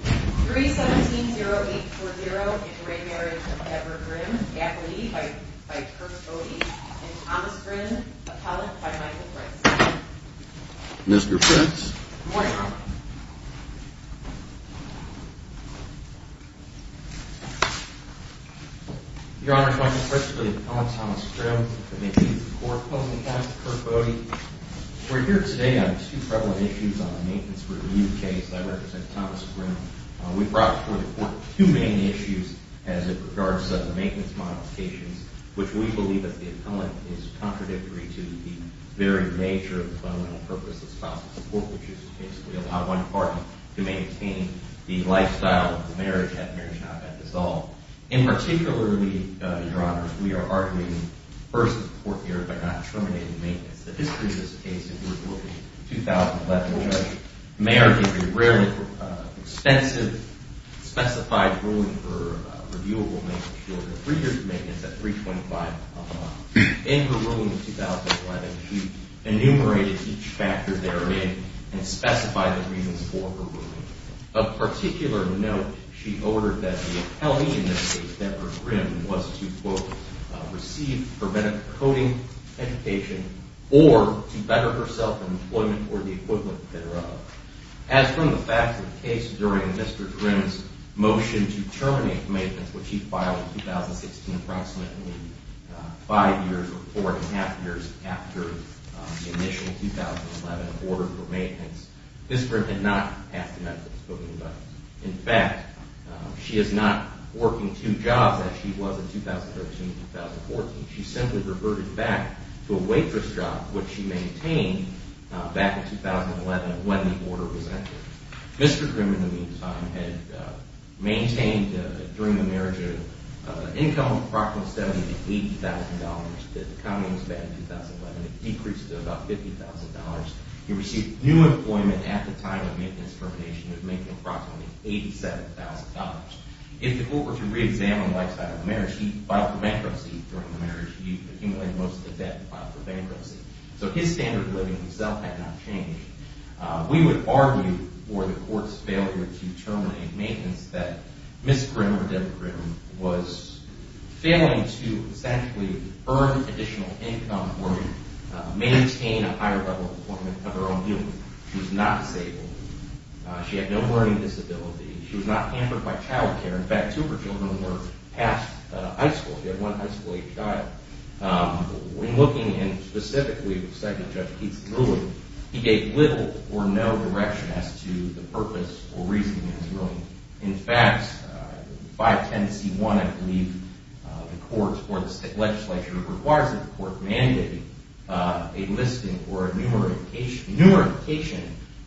3, 17, 0, 8, 4, 0, Inre Marriage of Edward Grimm, Gap, Lee, by Kirk Bode, and Thomas Grimm, Appellate, by Michael Fritz. Mr. Fritz. Good morning, Your Honor. Your Honor, Michael Fritz for the Appellate, Thomas Grimm. Appellate, Kirk Bode. We're here today on two prevalent issues on the maintenance review case. I represent Thomas Grimm. We brought before the court two main issues as it regards to maintenance modifications, which we believe that the appellant is contradictory to the very nature of the fundamental purpose of spousal support, which is to basically allow one partner to maintain the lifestyle of the marriage had marriage not been dissolved. In particular, Your Honor, we are arguing, first of the court here, by not terminating maintenance. The history of this case is we're looking at 2011. Judge Mayer gave a rarely expensive specified ruling for reviewable maintenance. She ordered three years of maintenance at $325,000. In her ruling in 2011, she enumerated each factor therein and specified the reasons for her ruling. Of particular note, she ordered that the appellee in this case, Deborah Grimm, was to, quote, receive preventive coding education or to better herself in employment or the equivalent thereof. As from the facts of the case during Mr. Grimm's motion to terminate maintenance, which he filed in 2016 approximately five years or four and a half years after the initial 2011 order for maintenance, Ms. Grimm had not passed the medical coding budget. In fact, she is not working two jobs as she was in 2013 and 2014. She simply reverted back to a waitress job, which she maintained back in 2011 when the order was entered. Mr. Grimm, in the meantime, had maintained during the marriage an income of approximately $70,000 to $80,000. The economy was bad in 2011. It decreased to about $50,000. He received new employment at the time of maintenance termination of making approximately $87,000. If the court were to reexamine the lifestyle of the marriage, he filed for bankruptcy during the marriage. He accumulated most of the debt and filed for bankruptcy. So his standard of living himself had not changed. We would argue for the court's failure to terminate maintenance that Ms. Grimm or Deborah Grimm was failing to essentially earn additional income or maintain a higher level of employment of her own human. She was not disabled. She had no learning disability. She was not hampered by child care. In fact, two of her children were past high school. She had one high school-age child. When looking specifically at Second Judge Keith's ruling, in fact, 510C1, I believe, the court's legislature requires that the court mandate a listing or a numerification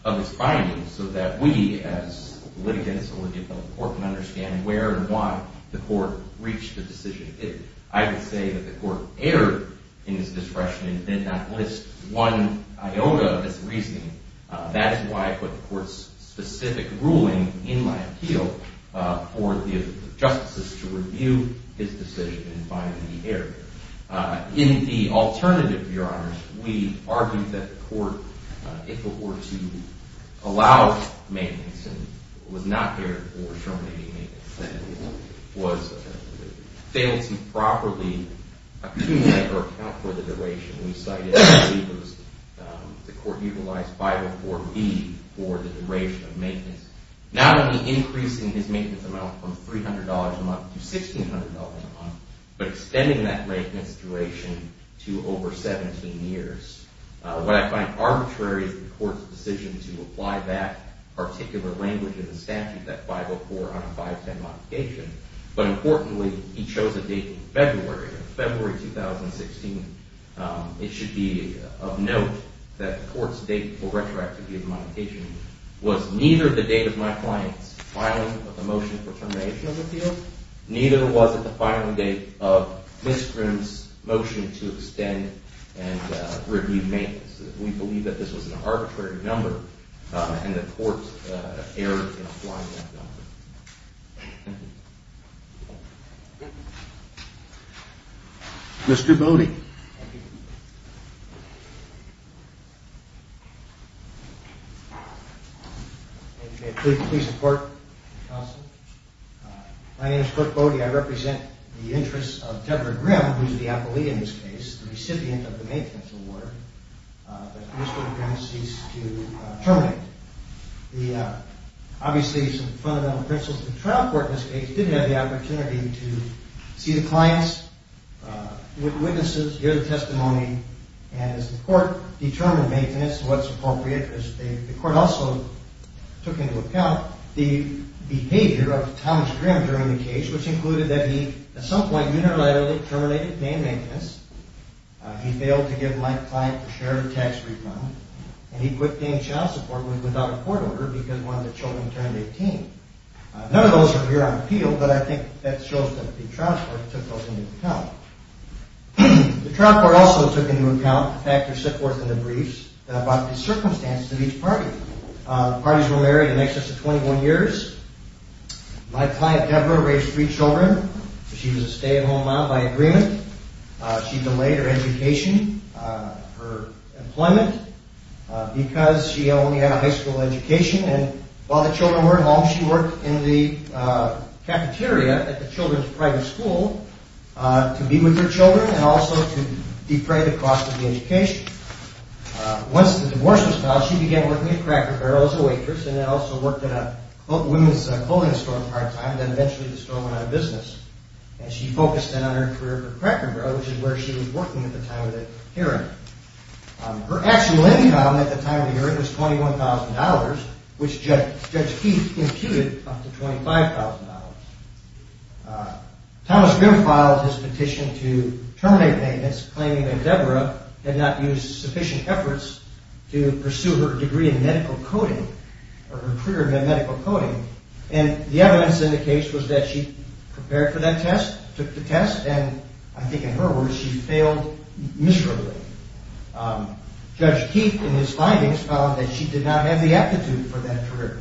of his findings so that we as litigants or the court can understand where and why the court reached a decision. I would say that the court erred in its discretion and did not list one iota of his reasoning. That is why I put the court's specific ruling in my appeal for the justices to review his decision and find the error. In the alternative, Your Honors, we argued that the court, if it were to allow maintenance and was not there for terminating maintenance, that it was failing to properly accumulate or account for the duration. We cited, I believe, the court utilized 504B for the duration of maintenance, not only increasing his maintenance amount from $300 a month to $1,600 a month, but extending that maintenance duration to over 17 years. What I find arbitrary is the court's decision to apply that particular language in the statute, that 504 on a 510 modification, but importantly, he chose a date in February, February 2016. It should be of note that the court's date for retroactivity of the modification was neither the date of my client's filing of the motion for termination of the appeal, neither was it the filing date of Ms. Grimm's motion to extend and review maintenance. We believe that this was an arbitrary number, and the court erred in applying that number. Mr. Bode. Thank you. If you may please report, counsel. My name is Cliff Bode. I represent the interests of Deborah Grimm, who is the appellee in this case, the recipient of the maintenance award that Mr. Grimm ceased to terminate. Obviously, some fundamental principles of the trial court in this case did have the opportunity to see the clients, witnesses, hear the testimony, and as the court determined maintenance, what's appropriate, the court also took into account the behavior of Thomas Grimm during the case, which included that he, at some point, unilaterally terminated dame maintenance. He failed to give my client a share of the tax refund, and he quit dame child support without a court order because one of the children turned 18. None of those are here on appeal, but I think that shows that the trial court took those into account. The trial court also took into account the factors set forth in the briefs about the circumstances of each party. Parties were married in excess of 21 years. My client, Deborah, raised three children. She was a stay-at-home mom by agreement. She delayed her education, her employment, because she only had a high school education, and while the children were at home, she worked in the cafeteria at the children's private school to be with her children and also to defray the cost of the education. Once the divorce was filed, she began working at Cracker Barrel as a waitress and then also worked at a women's clothing store part-time, and then eventually the store went out of business, and she focused then on her career at Cracker Barrel, which is where she was working at the time of the hearing. Her actual income at the time of the hearing was $21,000, which Judge Keith imputed up to $25,000. Thomas Grimm filed his petition to terminate maintenance, claiming that Deborah had not used sufficient efforts to pursue her degree in medical coding or her career in medical coding, and the evidence in the case was that she prepared for that test, took the test, and I think in her words, she failed miserably. Judge Keith, in his findings, found that she did not have the aptitude for that career.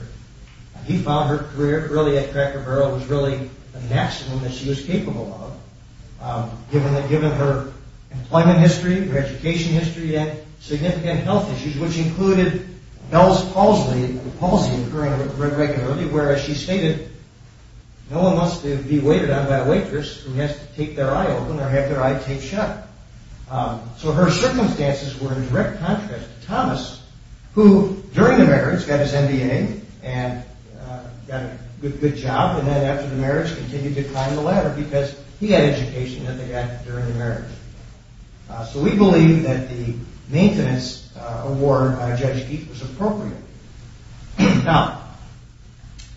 He found her career really at Cracker Barrel was really the maximum that she was capable of, given her employment history, her education history, and significant health issues, which included Bell's palsy occurring regularly, whereas she stated no one must be waited on by a waitress who has to take their eye open or have their eye taped shut. So her circumstances were in direct contrast to Thomas, who, during the marriage, got his MBA and got a good job, and then after the marriage, continued to climb the ladder because he had education that they got during the marriage. So we believe that the maintenance award by Judge Keith was appropriate. Now,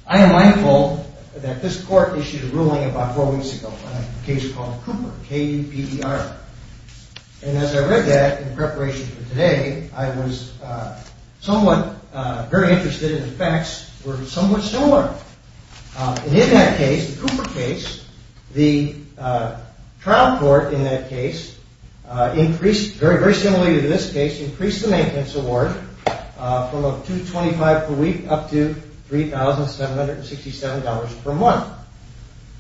I am mindful that this court issued a ruling about four weeks ago on a case called Cooper, K-U-P-E-R, and as I read that in preparation for today, I was somewhat very interested in the facts, and the facts were somewhat similar. And in that case, the Cooper case, the trial court in that case, very similarly to this case, increased the maintenance award from $225 per week up to $3,767 per month.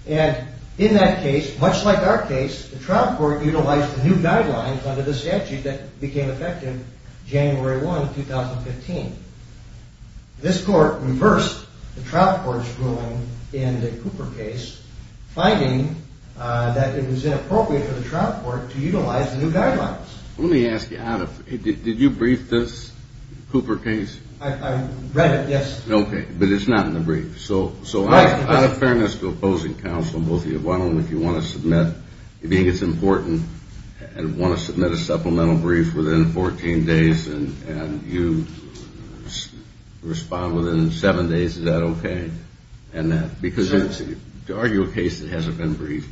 And in that case, much like our case, the trial court utilized the new guidelines under the statute that became effective January 1, 2015. This court reversed the trial court's ruling in the Cooper case, finding that it was inappropriate for the trial court to utilize the new guidelines. Let me ask you, did you brief this Cooper case? I read it, yes. Okay, but it's not in the brief. So out of fairness to opposing counsel and both of you, why don't, if you want to submit, if you think it's important, and want to submit a supplemental brief within 14 days, and you respond within seven days, is that okay? Because to argue a case that hasn't been briefed,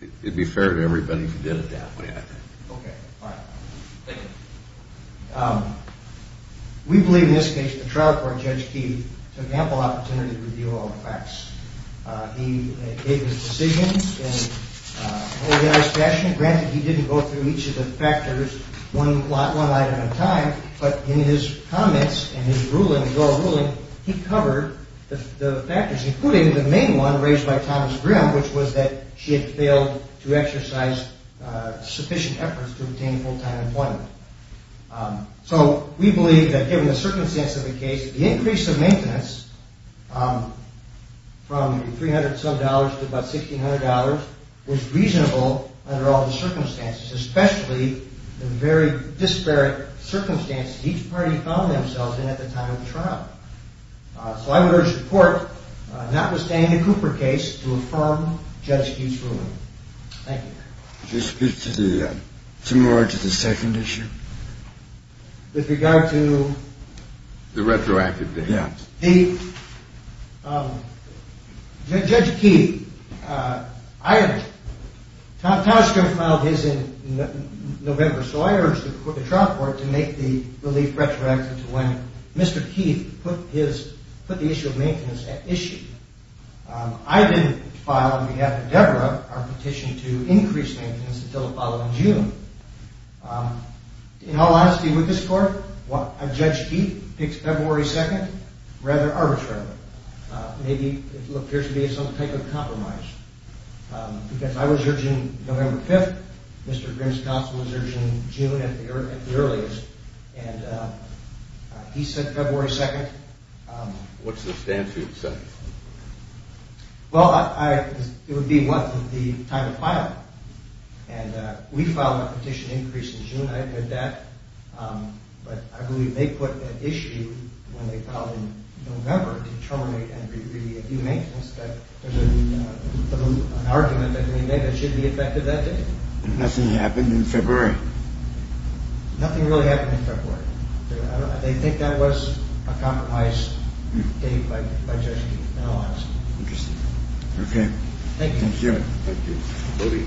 it would be fair to everybody if you did it that way, I think. Okay, fine. Thank you. We believe in this case the trial court, Judge Keith, took ample opportunity to review all the facts. He gave his decision in an organized fashion. Granted, he didn't go through each of the factors one item at a time, but in his comments and his ruling, his oral ruling, he covered the factors, including the main one raised by Thomas Grimm, which was that she had failed to exercise sufficient efforts to obtain full-time employment. So we believe that given the circumstance of the case, the increase of maintenance from 300-some dollars to about $1,600 was reasonable under all the circumstances, especially the very disparate circumstances each party found themselves in at the time of the trial. So I would urge the court, notwithstanding the Cooper case, to affirm Judge Keith's ruling. Thank you. Could you speak more to the second issue? With regard to? The retroactive case. Judge Keith, Thomas Grimm filed his in November, so I urge the trial court to make the relief retroactive to when Mr. Keith put the issue of maintenance at issue. I didn't file on behalf of Deborah our petition to increase maintenance until the following June. In all honesty with this court, Judge Keith picks February 2nd rather arbitrarily. Maybe it appears to be some type of compromise. Because I was urging November 5th, Mr. Grimm's counsel was urging June at the earliest, and he said February 2nd. What's the statute say? Well, it would be what the time of filing. And we filed a petition increase in June, I admit that. But I believe they put an issue when they filed in November to terminate and review maintenance. There's an argument that should be effected that day. Nothing happened in February. Nothing really happened in February. They think that was a compromised date by Judge Keith. In all honesty. Interesting. Okay. Thank you. Thank you.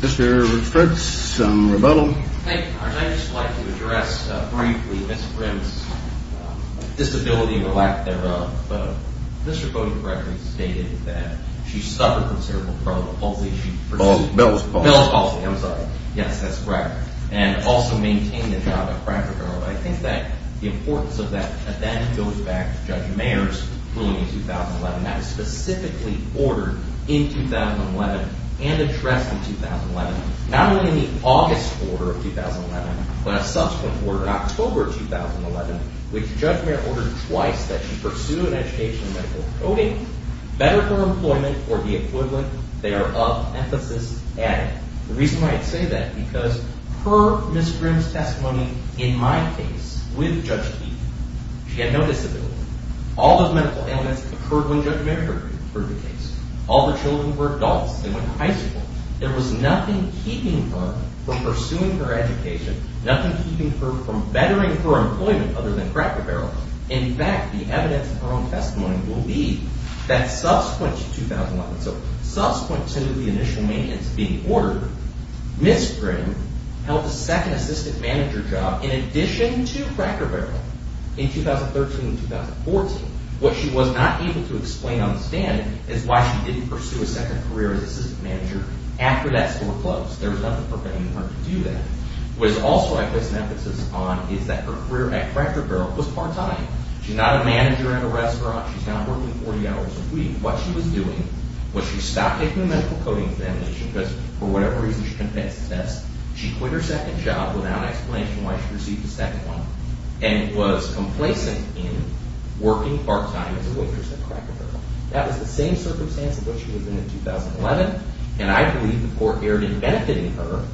Mr. Fitz, some rebuttal. I'd just like to address briefly Mr. Grimm's disability and the lack thereof. Mr. Bode correctly stated that she suffered from cerebral palsy. Bell's palsy. Bell's palsy, I'm sorry. Yes, that's correct. And also maintained the job at Franklin Courthouse. I think that the importance of that goes back to Judge Mayer's ruling in 2011. That was specifically ordered in 2011 and addressed in 2011. Not only in the August order of 2011, but a subsequent order in October of 2011, which Judge Mayer ordered twice that she pursue an education in medical coding, better for employment, or the equivalent. They are of emphasis added. The reason I say that is because per Ms. Grimm's testimony, in my case, with Judge Keith, she had no disability. All those medical ailments occurred when Judge Mayer heard the case. All the children were adults. They went to high school. There was nothing keeping her from pursuing her education, nothing keeping her from bettering her employment other than Cracker Barrel. In fact, the evidence in her own testimony will be that subsequent to 2011, so subsequent to the initial maintenance being ordered, Ms. Grimm held a second assistant manager job in addition to Cracker Barrel in 2013 and 2014. What she was not able to explain on the stand is why she didn't pursue a second career as assistant manager after that score closed. There was nothing preventing her to do that. What is also of emphasis on is that her career at Cracker Barrel was part-time. She's not a manager in a restaurant. She's not working 40 hours a week. What she was doing was she stopped taking the medical coding examination because for whatever reason she couldn't pass the test. She quit her second job without explanation why she received a second one and was complacent in working part-time as a waitress at Cracker Barrel. That was the same circumstance of what she was in in 2011, and I believe the court erred in benefiting her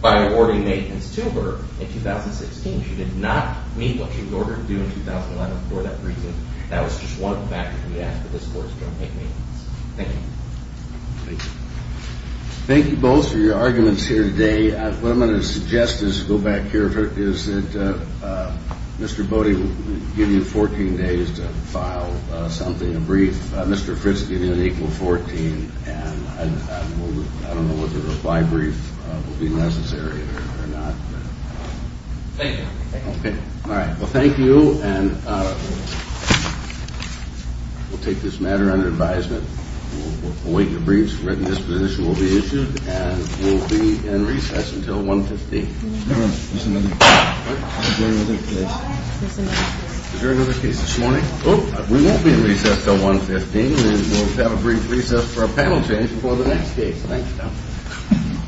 by awarding maintenance to her in 2016. She did not meet what she was ordered to do in 2011 for that reason. That was just one of the factors we asked that this court is going to make maintenance. Thank you. Thank you. Thank you both for your arguments here today. What I'm going to suggest as we go back here is that Mr. Bode will give you 14 days to file something, a brief. Mr. Fritz will give you an equal 14, and I don't know whether a by-brief will be necessary or not. Thank you. All right. Well, thank you, and we'll take this matter under advisement. We'll await your briefs. A written disposition will be issued, and we'll be in recess until 1.15. Is there another case this morning? Oh, we won't be in recess until 1.15. We'll have a brief recess for a panel change before the next case. Thank you.